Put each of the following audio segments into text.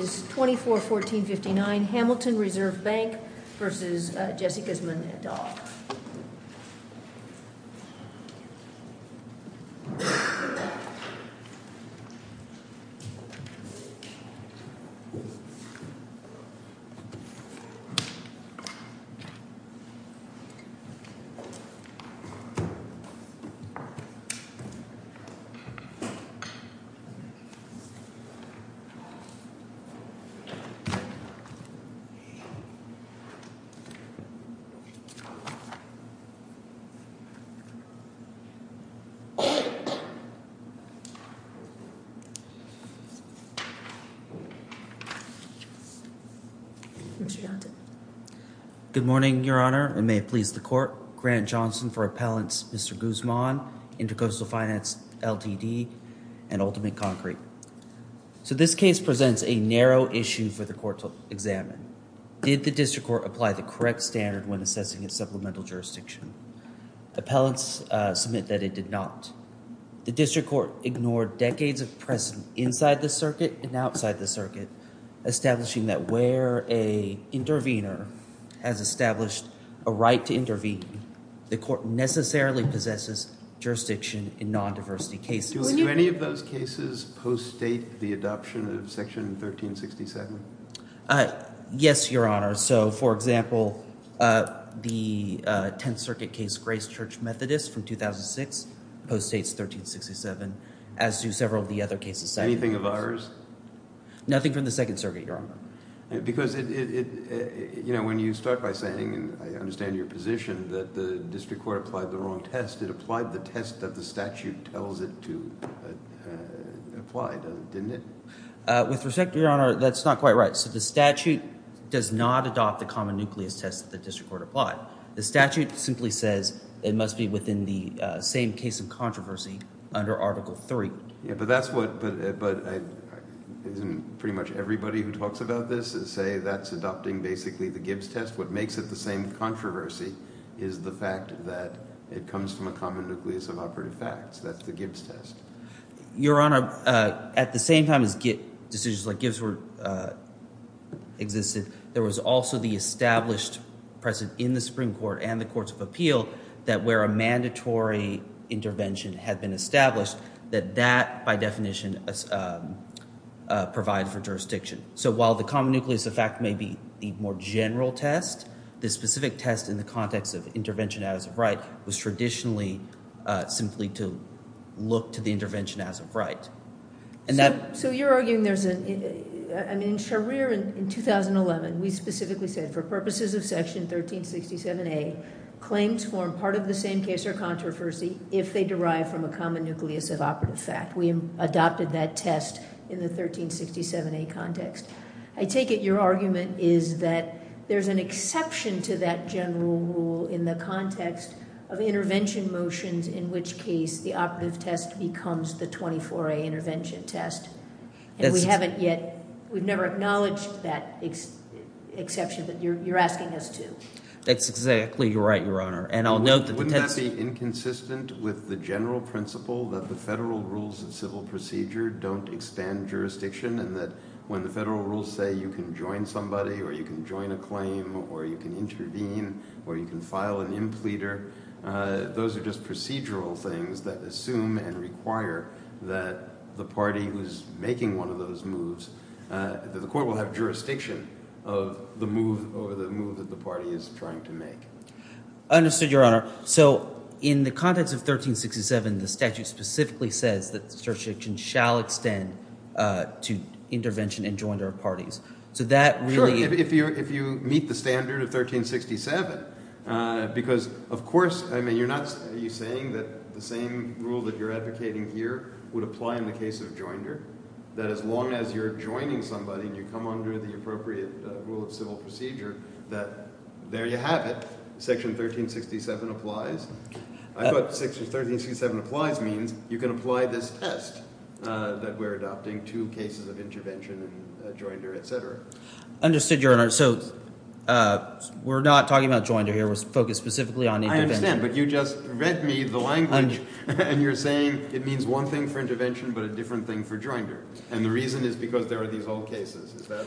v. 241459 Hamilton Reserve Bank Ltd. v. Jesse Gismond et al. Grant Johnson for Appellants Mr. Gismond, Intercoastal Finance Ltd. and Ultimate Concrete. So this case presents a narrow issue for the court to examine. Did the district court apply the correct standard when assessing its supplemental jurisdiction? Appellants submit that it did not. The district court ignored decades of precedent inside the circuit and outside the circuit, establishing that where a intervener has established a right to intervene, the court necessarily possesses jurisdiction in non-diversity cases. Do any of those cases post-date the adoption of Section 1367? Yes, Your Honor. So, for example, the Tenth Circuit case Grace Church Methodist from 2006 post-dates 1367, as do several of the other cases. Anything of ours? Nothing from the Second Circuit, Your Honor. Because it, you know, when you start by saying, and I understand your position that the district court applied the wrong test, it applied the test that the statute tells it to apply, didn't it? With respect, Your Honor, that's not quite right. So the statute does not adopt the common nucleus test that the district court applied. The statute simply says it must be within the same case of controversy under Article 3. Yeah, but that's what, but isn't pretty much everybody who talks about this say that's adopting basically the Gibbs test? What makes it the same controversy is the fact that it comes from a common nucleus of operative facts. That's the Gibbs test. Your Honor, at the same time as decisions like Gibbs existed, there was also the established precedent in the Supreme Court and the Courts of Appeal that where a mandatory intervention had been established, that that, by definition, provides for jurisdiction. So while the common nucleus of fact may be the more general test, the specific test in the context of intervention as of right was traditionally simply to look to the intervention as of right. And that— So you're arguing there's a, I mean, Sharir, in 2011, we specifically said for purposes of Section 1367A, claims form part of the same case or controversy if they derive from a common nucleus of operative fact. We adopted that test in the 1367A context. I take it your argument is that there's an exception to that general rule in the context of intervention motions, in which case the operative test becomes the 24A intervention test. And we haven't yet, we've never acknowledged that exception, but you're asking us to. That's exactly right, Your Honor. And I'll note that— I'm very inconsistent with the general principle that the federal rules of civil procedure don't expand jurisdiction and that when the federal rules say you can join somebody or you can join a claim or you can intervene or you can file an impleader, those are just procedural things that assume and require that the party who's making one of those moves, that the court will have jurisdiction of the move or the move that the party is trying to make. I understood, Your Honor. So in the context of 1367, the statute specifically says that the jurisdiction shall extend to intervention and joinder of parties. So that really— Sure, if you meet the standard of 1367, because of course, I mean, you're not saying that the same rule that you're advocating here would apply in the case of joinder, that as long as you're joining somebody and you come under the appropriate rule of civil procedure, that there you have it. Section 1367 applies. I thought section 1367 applies means you can apply this test that we're adopting to cases of intervention and joinder, etc. Understood, Your Honor. So we're not talking about joinder here. We're focused specifically on intervention. I understand, but you just read me the language and you're saying it means one thing for intervention but a different thing for joinder. And the reason is because there are these old cases. Is that—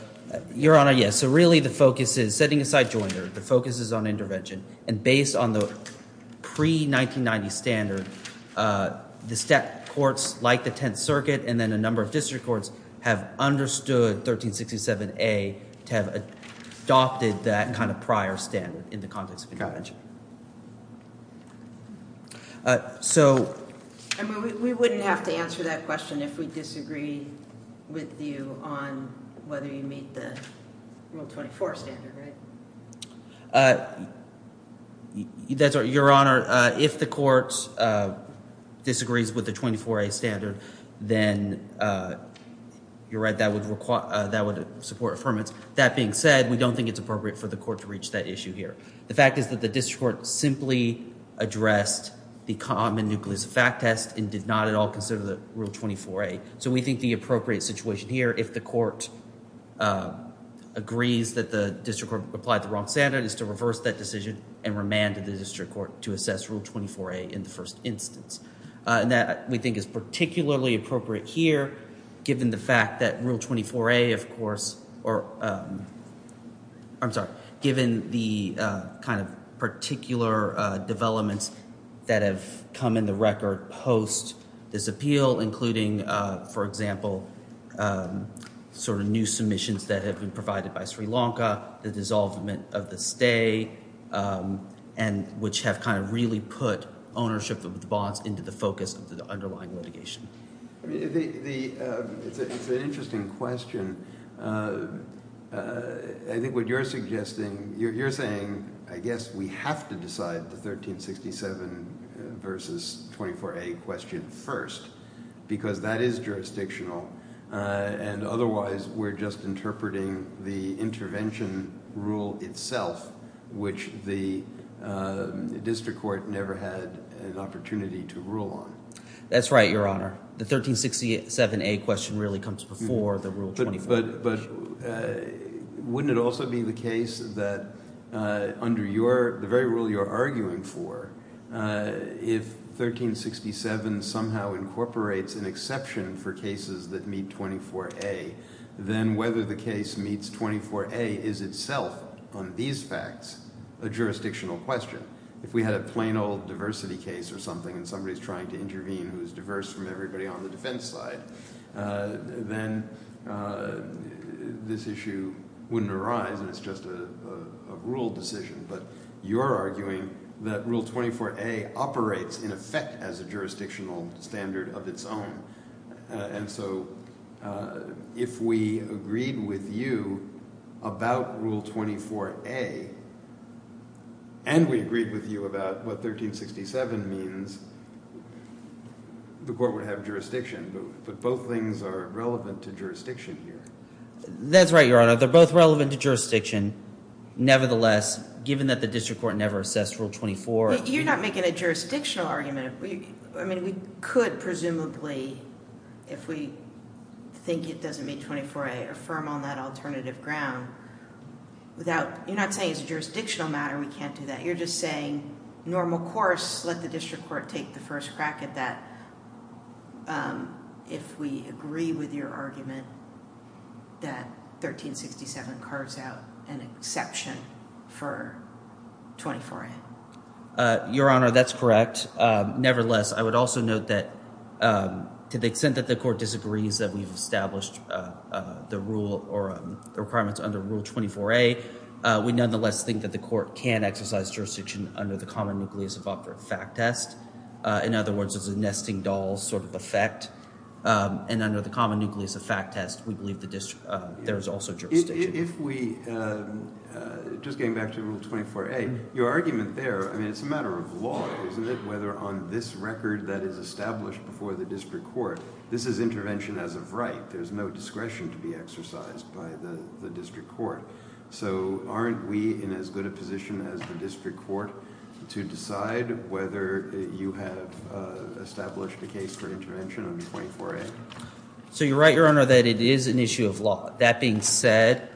Your Honor, yes. So really the focus is setting aside joinder. The focus is on intervention. And based on the pre-1990 standard, the stat courts like the Tenth Circuit and then a number of district courts have understood 1367A to have adopted that kind of prior standard in the context of intervention. So— I mean, we wouldn't have to answer that question if we disagree with you on whether you meet the Rule 24 standard, right? Your Honor, if the court disagrees with the 24A standard, then you're right. That would support affirmance. That being said, we don't think it's appropriate for the court to reach that issue here. The fact is that the district court simply addressed the common nucleus fact test and did not at all consider the Rule 24A. So we think the appropriate situation here if the court agrees that the district court applied the wrong standard is to reverse that decision and remanded the district court to assess Rule 24A in the first instance. And that we think is particularly appropriate here given the fact that Rule 24A, of course, or— I'm sorry, given the kind of particular developments that have come in the record post this appeal, including, for example, sort of new submissions that have been provided by Sri Lanka, the dissolvement of the stay, and which have kind of really put ownership of the bonds into the focus of the underlying litigation. It's an interesting question. I think what you're suggesting, you're saying I guess we have to decide the 1367 versus 24A question first because that is jurisdictional and otherwise we're just interpreting the intervention rule itself, which the district court never had an opportunity to rule on. That's right, Your Honor. The 1367A question really comes before the Rule 24A question. But wouldn't it also be the case that under the very rule you're arguing for, if 1367 somehow incorporates an exception for cases that meet 24A, then whether the case meets 24A is itself on these facts a jurisdictional question. If we had a plain old diversity case or something and somebody's trying to intervene who's diverse from everybody on the defense side, then this issue wouldn't arise and it's just a rule decision. But you're arguing that Rule 24A operates in effect as a jurisdictional standard of its own. And so if we agreed with you about Rule 24A and we agreed with you about what 1367 means, the court would have jurisdiction. But both things are relevant to jurisdiction here. That's right, Your Honor. They're both relevant to jurisdiction. Nevertheless, given that the district court never assessed Rule 24. You're not making a jurisdictional argument. I mean, we could presumably, if we think it doesn't meet 24A, affirm on that alternative ground. You're not saying it's a jurisdictional matter. We can't do that. You're just saying normal course, let the district court take the first crack at that. If we agree with your argument that 1367 carves out an exception for 24A. Your Honor, that's correct. Nevertheless, I would also note that to the extent that the court disagrees that we've established the rule or the requirements under Rule 24A, we nonetheless think that the court can exercise jurisdiction under the common nucleus of operative fact test. In other words, it's a nesting doll sort of effect. And under the common nucleus of fact test, we believe there is also jurisdiction. If we, just getting back to Rule 24A, your argument there, I mean, it's a matter of law, isn't it? Whether on this record that is established before the district court, this is intervention as of right. There's no discretion to be exercised by the district court. So aren't we in as good a position as the district court to decide whether you have established a case for intervention under 24A? So you're right, your Honor, that it is an issue of law. That being said,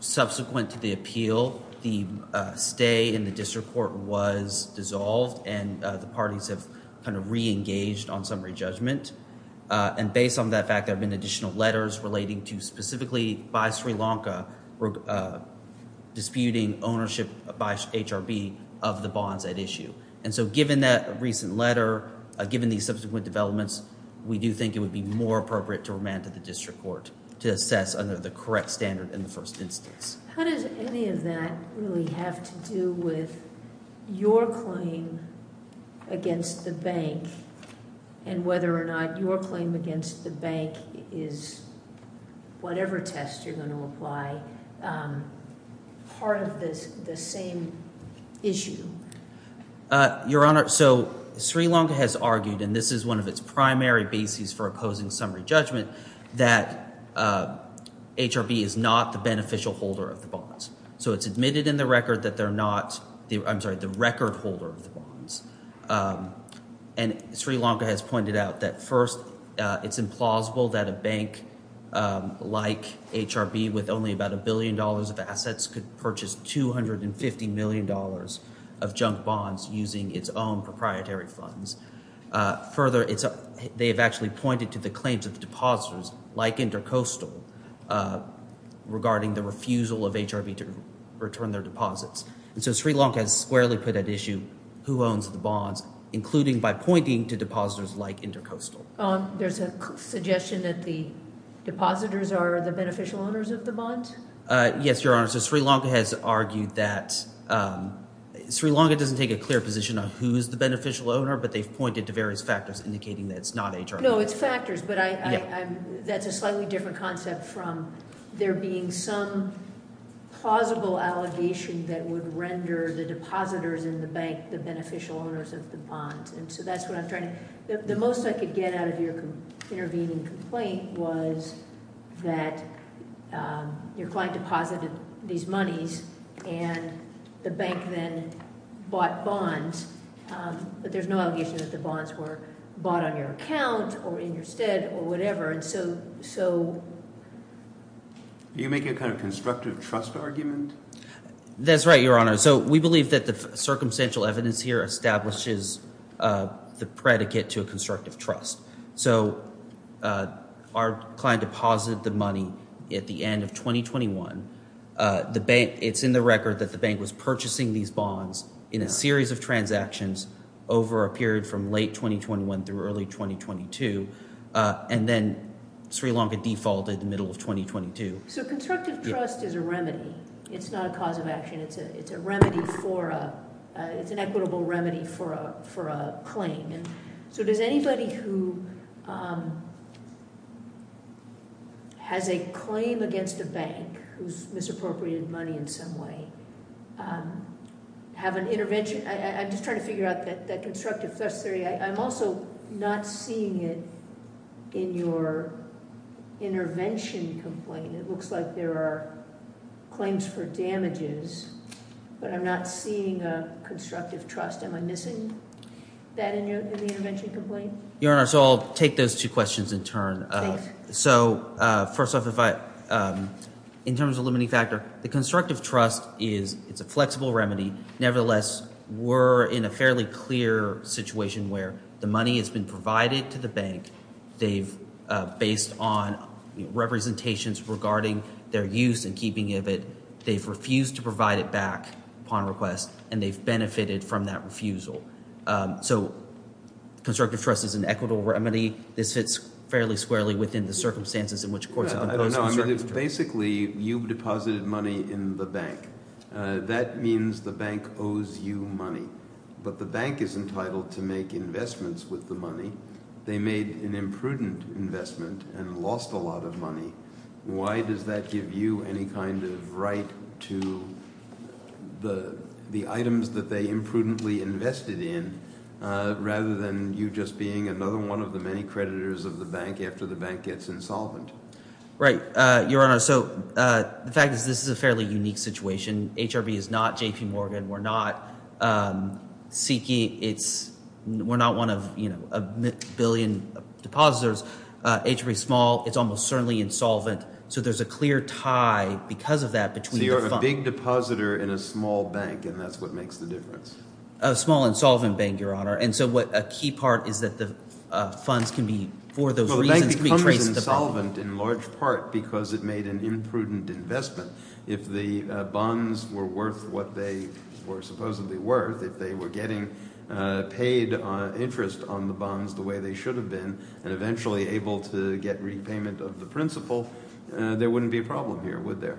subsequent to the appeal, the stay in the district court was dissolved. And the parties have kind of re-engaged on summary judgment. And based on that fact, there have been additional letters relating to specifically by Sri Lanka disputing ownership by HRB of the bonds at issue. And so given that recent letter, given these subsequent developments, we do think it would be more appropriate to remand to the district court to assess under the correct standard in the first instance. How does any of that really have to do with your claim against the bank and whether or not your claim against the bank is, whatever test you're going to apply, part of the same issue? Your Honor, so Sri Lanka has argued, and this is one of its primary bases for opposing summary judgment, that HRB is not the beneficial holder of the bonds. So it's admitted in the record that they're not, I'm sorry, the record holder of the bonds. And Sri Lanka has pointed out that first, it's implausible that a bank like HRB with only about a billion dollars of assets could purchase 250 million dollars of junk bonds using its own proprietary funds. Further, they've actually pointed to the claims of the depositors like Intercoastal regarding the refusal of HRB to return their deposits. And so Sri Lanka has squarely put at issue who owns the bonds, including by pointing to depositors like Intercoastal. There's a suggestion that the depositors are the beneficial owners of the bonds? Yes, Your Honor. So Sri Lanka has argued that Sri Lanka doesn't take a clear position on who is the beneficial owner, but they've pointed to various factors indicating that it's not HRB. No, it's factors, but that's a slightly different concept from there being some plausible allegation that would render the depositors in the bank the beneficial owners of the bonds. And so that's what I'm trying to... The most I could get out of your intervening complaint was that your client deposited these monies and the bank then bought bonds, but there's no allegation that the bonds were bought on your account or in your stead or whatever. And so... Are you making a kind of constructive trust argument? That's right, Your Honor. So we believe that the circumstantial evidence here establishes the predicate to a constructive trust. So our client deposited the money at the end of 2021. It's in the record that the bank was purchasing these bonds in a series of transactions over a period from late 2021 through early 2022. And then Sri Lanka defaulted in the middle of 2022. So constructive trust is a remedy. It's not a cause of action. It's a remedy for a... It's an equitable remedy for a claim. And so does anybody who has a claim against a bank who's misappropriated money in some way have an intervention? I'm just trying to figure out that constructive trust theory. I'm also not seeing it in your intervention complaint. It looks like there are claims for damages, but I'm not seeing a constructive trust. Am I missing that in the intervention complaint? Your Honor, so I'll take those two questions in turn. So first off, if I... In terms of limiting factor, the constructive trust is... It's a flexible remedy. Nevertheless, we're in a fairly clear situation where the money has been provided to the bank. They've, based on representations regarding their use and keeping of it, they've refused to provide it back upon request and they've benefited from that refusal. So constructive trust is an equitable remedy. This fits fairly squarely within the circumstances in which courts have imposed constructive trust. Basically, you've deposited money in the bank. That means the bank owes you money, but the bank is entitled to make investments with the money. They made an imprudent investment and lost a lot of money. Why does that give you any kind of right to the items that they imprudently invested in rather than you just being another one of the many creditors of the bank after the bank gets insolvent? Right, Your Honor. So the fact is this is a fairly unique situation. HRB is not J.P. Morgan. We're not Seki. It's, we're not one of, you know, a billion depositors. HRB is small. It's almost certainly insolvent. So there's a clear tie because of that between the funds. You're a big depositor in a small bank and that's what makes the difference. A small insolvent bank, Your Honor. And so what a key part is that the funds can be, for those reasons, can be traced to the bank. Well, the bank becomes insolvent in large part because it made an imprudent investment. If the bonds were worth what they were supposedly worth, if they were getting paid interest on the bonds the way they should have been and eventually able to get repayment of the principal, there wouldn't be a problem here, would there?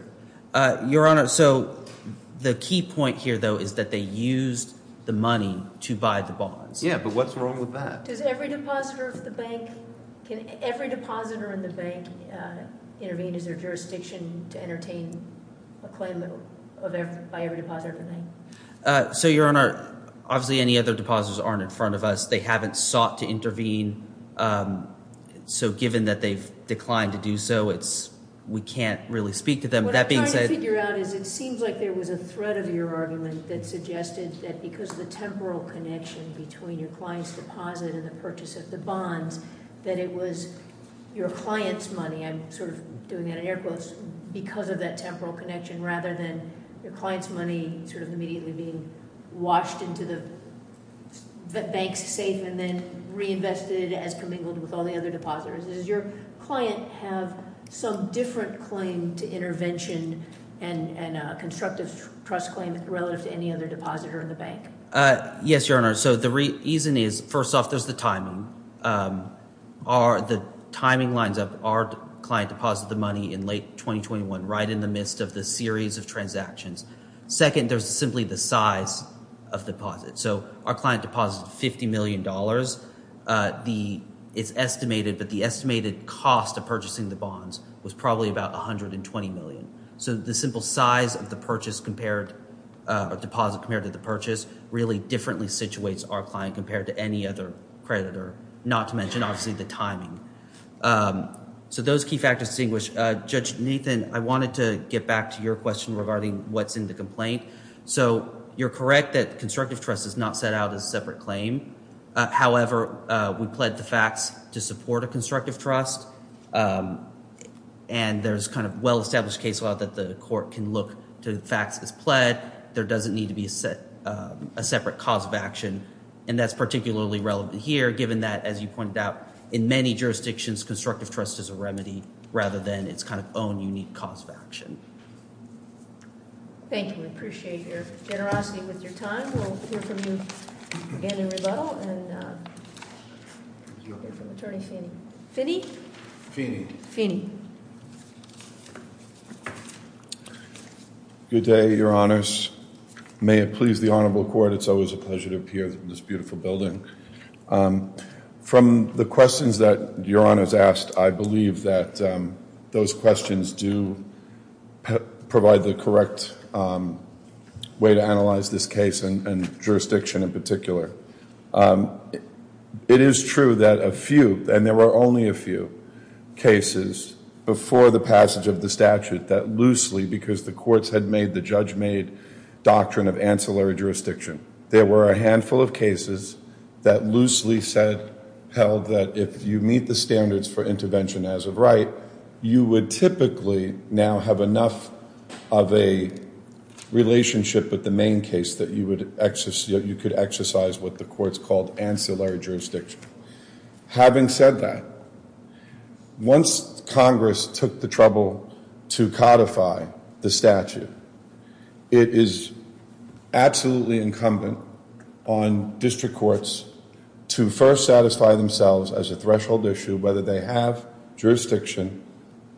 Your Honor, so the key point here though is that they used the money to buy the bonds. Yeah, but what's wrong with that? Does every depositor of the bank, can every depositor in the bank intervene? Is there jurisdiction to entertain a claim by every depositor of the bank? So, Your Honor, obviously any other depositors aren't in front of us. They haven't sought to intervene. So given that they've declined to do so, it's, we can't really speak to them. What I'm trying to figure out is it seems like there was a thread of your argument that suggested that because of the temporal connection between your client's deposit and the purchase of the bonds, that it was your client's money. I'm sort of doing that in air quotes because of that temporal connection rather than your client's money sort of immediately being washed into the bank's safe and then reinvested as commingled with all the other depositors. Does your client have some different claim to intervention and a constructive trust claim relative to any other depositor in the bank? Yes, Your Honor. So the reason is, first off, there's the timing. Our, the timing lines up. Our client deposited the money in late 2021 right in the midst of the series of transactions. Second, there's simply the size of deposit. So our client deposited $50 million. The, it's estimated, but the estimated cost of purchasing the bonds was probably about $120 million. So the simple size of the purchase compared, of deposit compared to the purchase really differently situates our client compared to any other creditor. Not to mention, obviously, the timing. So those key factors distinguish. Judge Nathan, I wanted to get back to your question regarding what's in the complaint. So you're correct that constructive trust is not set out as a separate claim. However, we pled the facts to support a constructive trust and there's kind of well-established case law that the court can look to the facts as pled. There doesn't need to be a separate cause of action and that's particularly relevant here given that, as you pointed out, in many jurisdictions, constructive trust is a remedy rather than its kind of own unique cause of action. Thank you. We appreciate your generosity with your time. We'll hear from you again in rebuttal and we'll hear from Attorney Feeney. Feeney? Feeney. Feeney. Good day, Your Honors. May it please the Honorable Court, it's always a pleasure to appear in this beautiful building. From the questions that Your Honors asked, I believe that those questions do provide the correct way to analyze this case and jurisdiction in particular. It is true that a few, and there were only a few, cases before the passage of the statute that loosely because the courts had made, the judge made doctrine of ancillary jurisdiction. There were a handful of cases that loosely said, held that if you meet the standards for intervention as of right, you would typically now have enough of a relationship with the main case that you could exercise what the courts called ancillary jurisdiction. Having said that, once Congress took the trouble to codify the statute, it is absolutely incumbent on district courts to first satisfy themselves as a threshold issue whether they have jurisdiction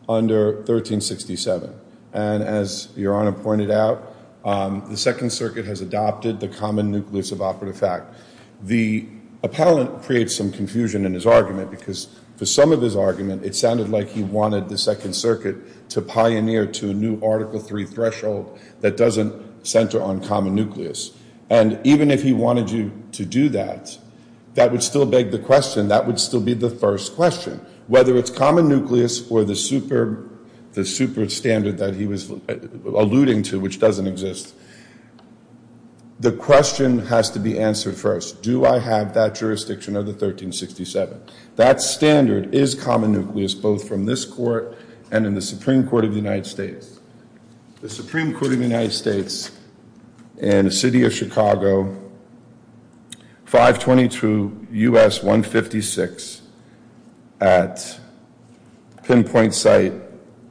under 1367. And as Your Honor pointed out, the Second Circuit has adopted the common nucleus of operative fact. The appellant creates some confusion in his argument because for some of his argument, it sounded like he wanted the Second Circuit to pioneer to a new Article III threshold that doesn't center on common nucleus. And even if he wanted you to do that, that would still beg the question, that would still be the first question. Whether it's common nucleus or the super standard that he was alluding to which doesn't exist, the question has to be answered first. Do I have that jurisdiction under 1367? That standard is common nucleus both from this court and in the Supreme Court of the United States. The Supreme Court of the United States in the city of Chicago, 522 U.S. 156 at pinpoint site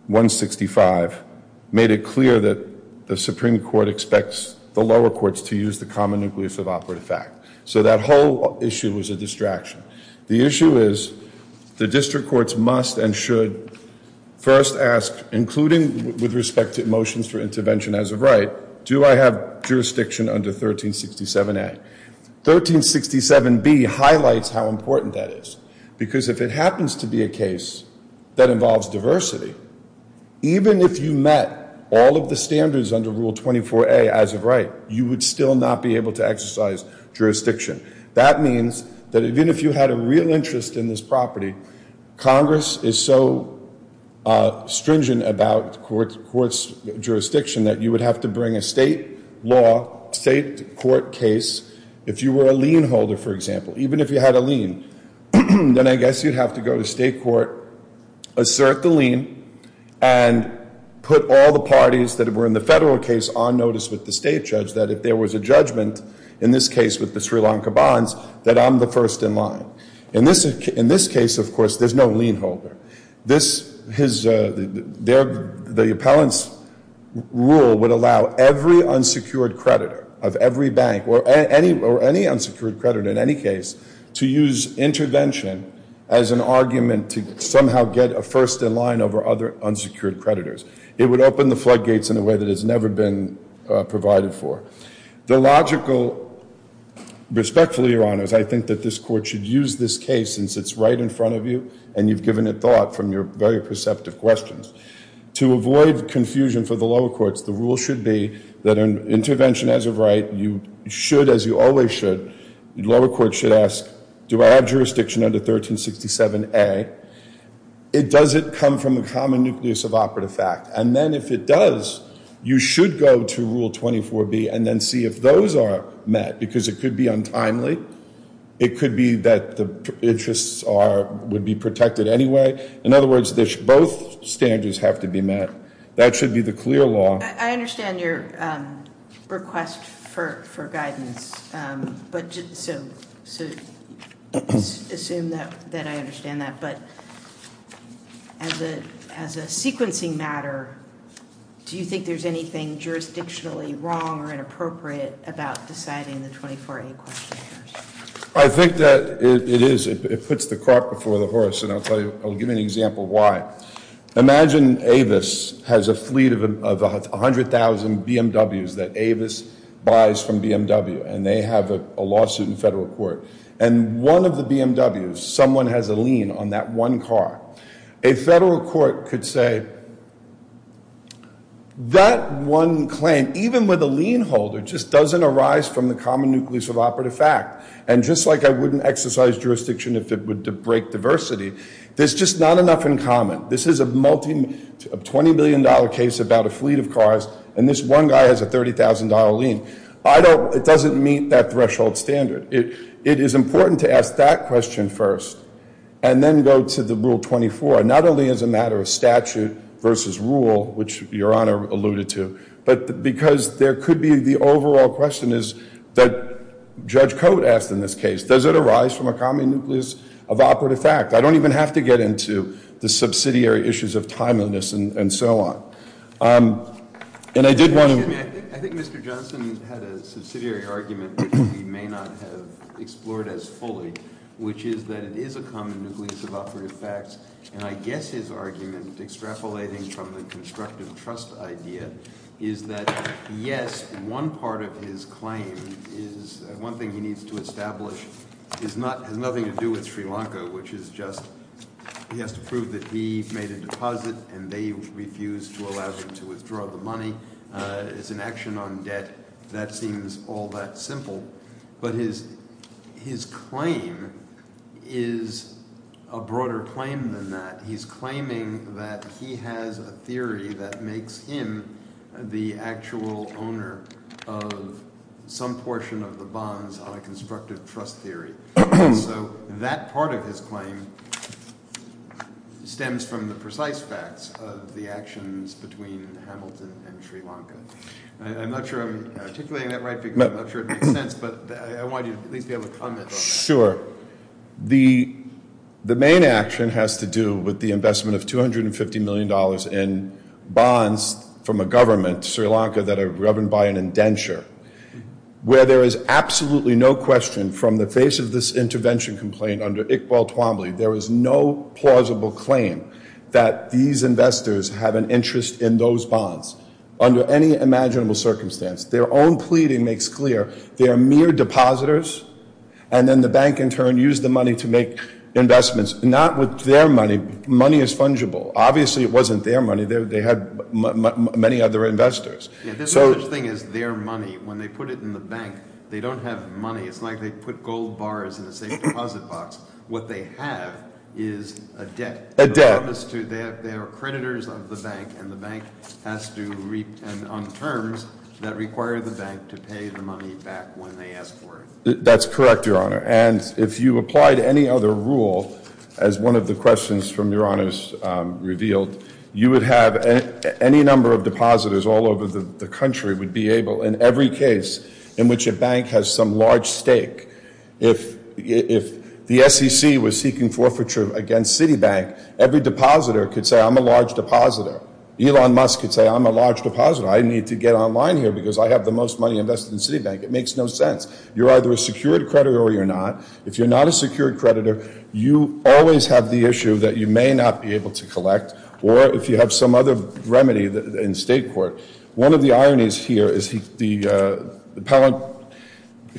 165, made it clear that the Supreme Court expects the lower courts to use the common nucleus of operative fact. So that whole issue was a distraction. The issue is the district courts must and should first ask, including with respect to motions for intervention as of right, do I have jurisdiction under 1367A? 1367B highlights how important that is because if it happens to be a case that involves diversity, even if you met all of the standards under Rule 24A as of right, you would still not be able to exercise jurisdiction. That means that even if you had a real interest in this property, Congress is so stringent about courts' jurisdiction that you would have to bring a state law, state court case. If you were a lien holder, for example, even if you had a lien, then I guess you'd have to go to state court, assert the lien, and put all the parties that were in the federal case on notice with the state judge that if there was a judgment, in this case with the Sri Lanka Bonds, that I'm the first in line. In this case, of course, there's no lien holder. The appellant's rule would allow every unsecured creditor of every bank or any unsecured creditor in any case to use intervention as an argument to somehow get a first in line over other unsecured creditors. It would open the floodgates in a way that has never been provided for. The logical, respectfully, Your Honors, I think that this court should use this case since it's right in front of you and you've given it thought from your very perceptive questions. To avoid confusion for the lower courts, the rule should be that an intervention as of right, you should, as you always should, the lower court should ask, do I have jurisdiction under 1367A? Does it come from the common nucleus of operative fact? And then if it does, you should go to Rule 24B and then see if those are met because it could be untimely. It could be that the interests would be protected anyway. In other words, both standards have to be met. That should be the clear law. I understand your request for guidance. Assume that I understand that, but as a sequencing matter, do you think there's anything jurisdictionally wrong or inappropriate about deciding the 24A questionnaires? I think that it is. It puts the cart before the horse and I'll tell you, I'll give you an example why. Imagine Avis has a fleet of 100,000 BMWs that Avis buys from BMW and they have a lawsuit in federal court and one of the BMWs, someone has a lien on that one car. A federal court could say, that one claim, even with a lien holder, just doesn't arise from the common nucleus of operative fact. And just like I wouldn't exercise jurisdiction if it would break diversity, there's just not enough in common. This is a multi, a $20 million case about a fleet of cars and this one guy has a $30,000 lien. I don't, it doesn't meet that threshold standard. It is important to ask that question first and then go to the Rule 24. Not only as a matter of statute, versus rule, which Your Honor alluded to, but because there could be, the overall question is, that Judge Cote asked in this case, does it arise from a common nucleus of operative fact? I don't even have to get into the subsidiary issues of timeliness and so on. And I did want to... Excuse me, I think Mr. Johnson had a subsidiary argument which we may not have explored as fully, which is that it is a common nucleus of operative facts and I guess his argument extrapolating from the constructive trust idea is that yes, one part of his claim is, one thing he needs to establish is not, has nothing to do with Sri Lanka, which is just, he has to prove that he made a deposit and they refused to allow him to withdraw the money. It's an action on debt. That seems all that simple. But his, his claim is a broader claim than that. He's claiming that he has a theory that makes him the actual owner of some portion of the bonds on a constructive trust theory. So that part of his claim stems from the precise facts of the actions between Hamilton and Sri Lanka. I'm not sure I'm articulating that right because I'm not sure it makes sense, but I want you to at least be able to comment on that. Sure. The, the main action has to do with the investment of 250 million dollars in bonds from a government, Sri Lanka, that are governed by an indenture. Where there is absolutely no question from the face of this intervention complaint under Iqbal Twombly, there is no plausible claim that these investors have an interest in those bonds under any imaginable circumstance. Their own pleading makes clear they are mere depositors and then the bank in turn used the money to make investments. Not with their money. Money is fungible. Obviously, it wasn't their money. They had many other investors. Yeah, this whole thing is their money. When they put it in the bank, they don't have money. It's like they put gold bars in a safe deposit box. What they have is a debt. A debt. They are creditors of the bank and the bank has to reap on terms that require the bank to pay the money back when they ask for it. That's correct, Your Honor. And if you applied any other rule as one of the questions from Your Honors revealed, you would have any number of depositors all over the country would be able in every case in which a bank has some large stake. If the SEC was seeking forfeiture against Citibank, every depositor could say, I'm a large depositor. Elon Musk could say, I'm a large depositor. I need to get online here because I have the most money invested in Citibank. It makes no sense. You're either a secured creditor or you're not. If you're not a secured creditor, you always have the issue that you may not be able to collect or if you have some other remedy in state court. One of the ironies here is the appellant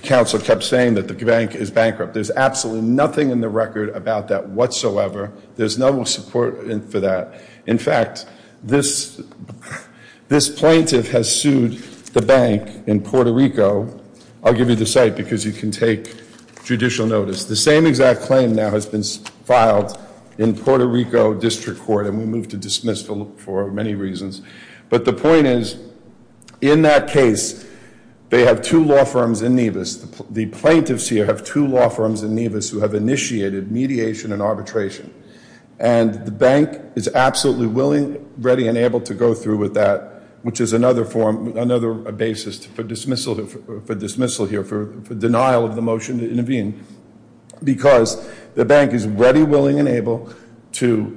counsel kept saying that the bank is bankrupt. There's absolutely nothing in the record about that whatsoever. There's no support for that. In fact, this plaintiff has sued the bank in Puerto Rico. I'll give you the site because you can take judicial notice. The same exact claim now has been filed in Puerto Rico District Court and we moved to dismiss for many reasons. But the point is, in that case, they have two law firms in Nevis. The plaintiffs here have two law firms in Nevis who have initiated mediation and arbitration. And the bank is absolutely willing, ready and able to go through with that, which is another form, another basis for dismissal here, for denial of the motion to intervene. Because the bank is ready, willing and able to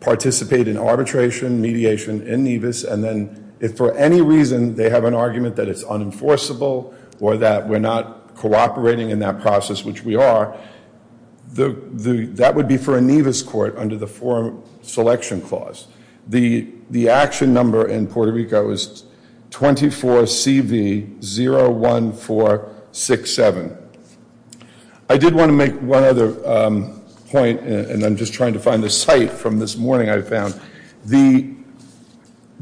participate in arbitration, mediation in Nevis. And then if for any reason they have an argument that it's unenforceable or that we're not cooperating in that process, which we are, that would be for a Nevis court under the forum selection clause. The action number in Puerto Rico is 24CV01467. I did want to make one other point and I'm just trying to find the site from this morning I found.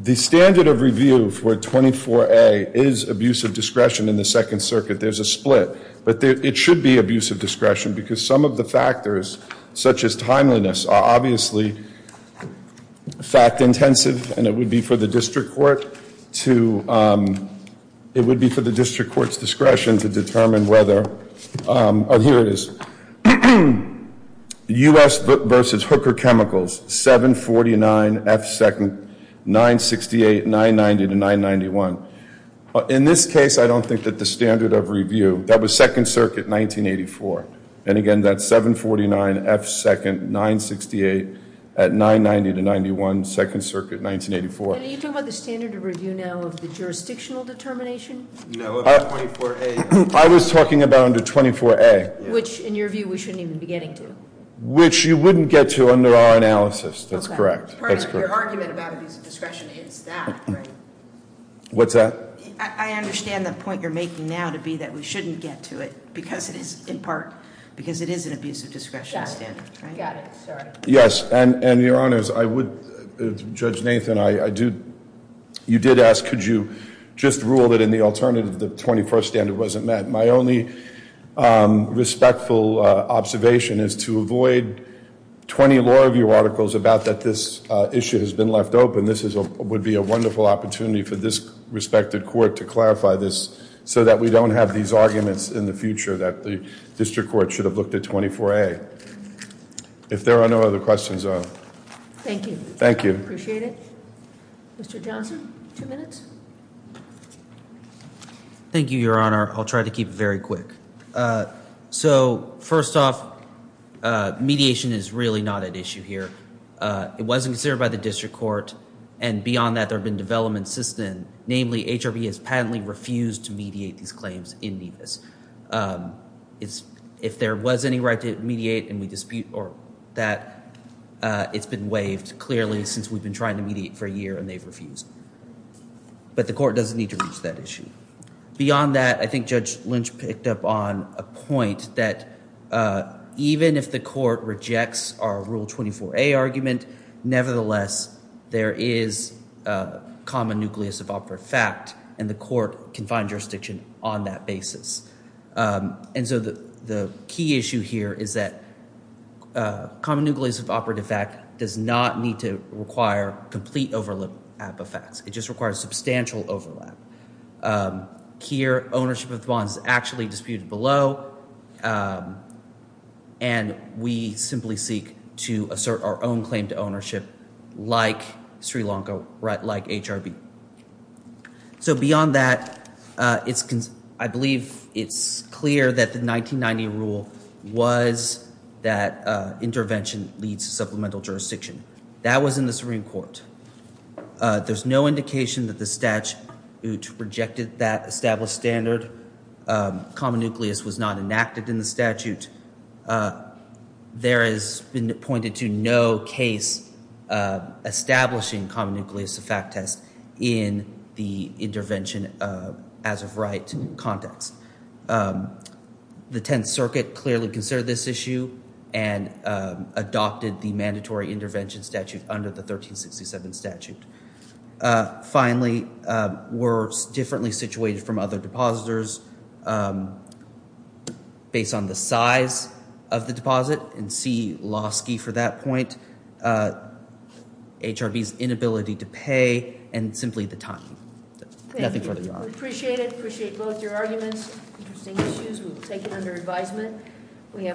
The standard of review for 24A is abuse of discretion in the Second Circuit. There's a split. But it should be abuse of discretion because some of the factors, such as timeliness, are obviously fact-intensive and it would be for the district court to, it would be for the district court's discretion to determine whether, oh, here it is. U.S. versus Hooker Chemicals, 749F2nd 968 990-991. In this case, I don't think that the standard of review, that was Second Circuit 1984. And again, that's 749F2nd 968 at 990-91 Second Circuit 1984. And are you talking about the standard of review now of the jurisdictional determination? No, of 24A. I was talking about under 24A. Which, in your view, we shouldn't even be getting to. Which you wouldn't get to under our analysis. That's correct. Part of your argument about abuse of discretion is that, right? What's that? I understand the point you're making now to be that we shouldn't get to it because it is, in part, because it is an abuse of discretion standard, right? Got it, sorry. Yes, and your honors, I would, Judge Nathan, I do, you did ask, could you just rule that in the alternative, the 21st standard wasn't met. My only respectful observation is to avoid 20 law review articles about that this issue has been left open. This would be a wonderful opportunity for this respected court to clarify this so that we don't have these arguments in the future that the district court should have looked at 24A. If there are no other questions, I'll... Thank you. Thank you. Appreciate it. Mr. Johnson, two minutes. Thank you, your honor. I'll try to keep it very quick. So, first off, mediation is really not at issue here. It wasn't considered by the district court and beyond that, there have been developments since then. Namely, HRB has patently refused to mediate these claims in NEVIS. It's, if there was any right to mediate and we dispute or that it's been waived clearly since we've been trying to mediate for a year and they've refused. But the court doesn't need to reach that issue. Beyond that, I think Judge Lynch picked up on a point that even if the court rejects our rule 24A argument, nevertheless, there is a common nucleus of opera fact and the court can find jurisdiction on that basis. And so, the key issue here is that common nucleus of operative fact does not need to require complete overlap of facts. It just requires substantial overlap. Here, ownership of the bonds is actually disputed below and we simply seek to assert our own claim to ownership like Sri Lanka, right, like HRB. So, beyond that, it's, I believe it's clear that the 1990 rule was that intervention leads to supplemental jurisdiction. That was in the Supreme Court. There's no indication that the statute rejected that established standard. Common nucleus was not enacted in the statute. There has been pointed to no case establishing common nucleus of fact test. In the intervention as of right context. The 10th Circuit clearly considered this issue and adopted the mandatory intervention statute under the 1367 statute. Finally, we're differently situated from other depositors based on the size of the deposit and see Lasky for that point, HRB's inability to pay and simply the time. Nothing further, Your Honor. Appreciate it. Appreciate both your arguments. Interesting issues. We'll take it under advisement. We have.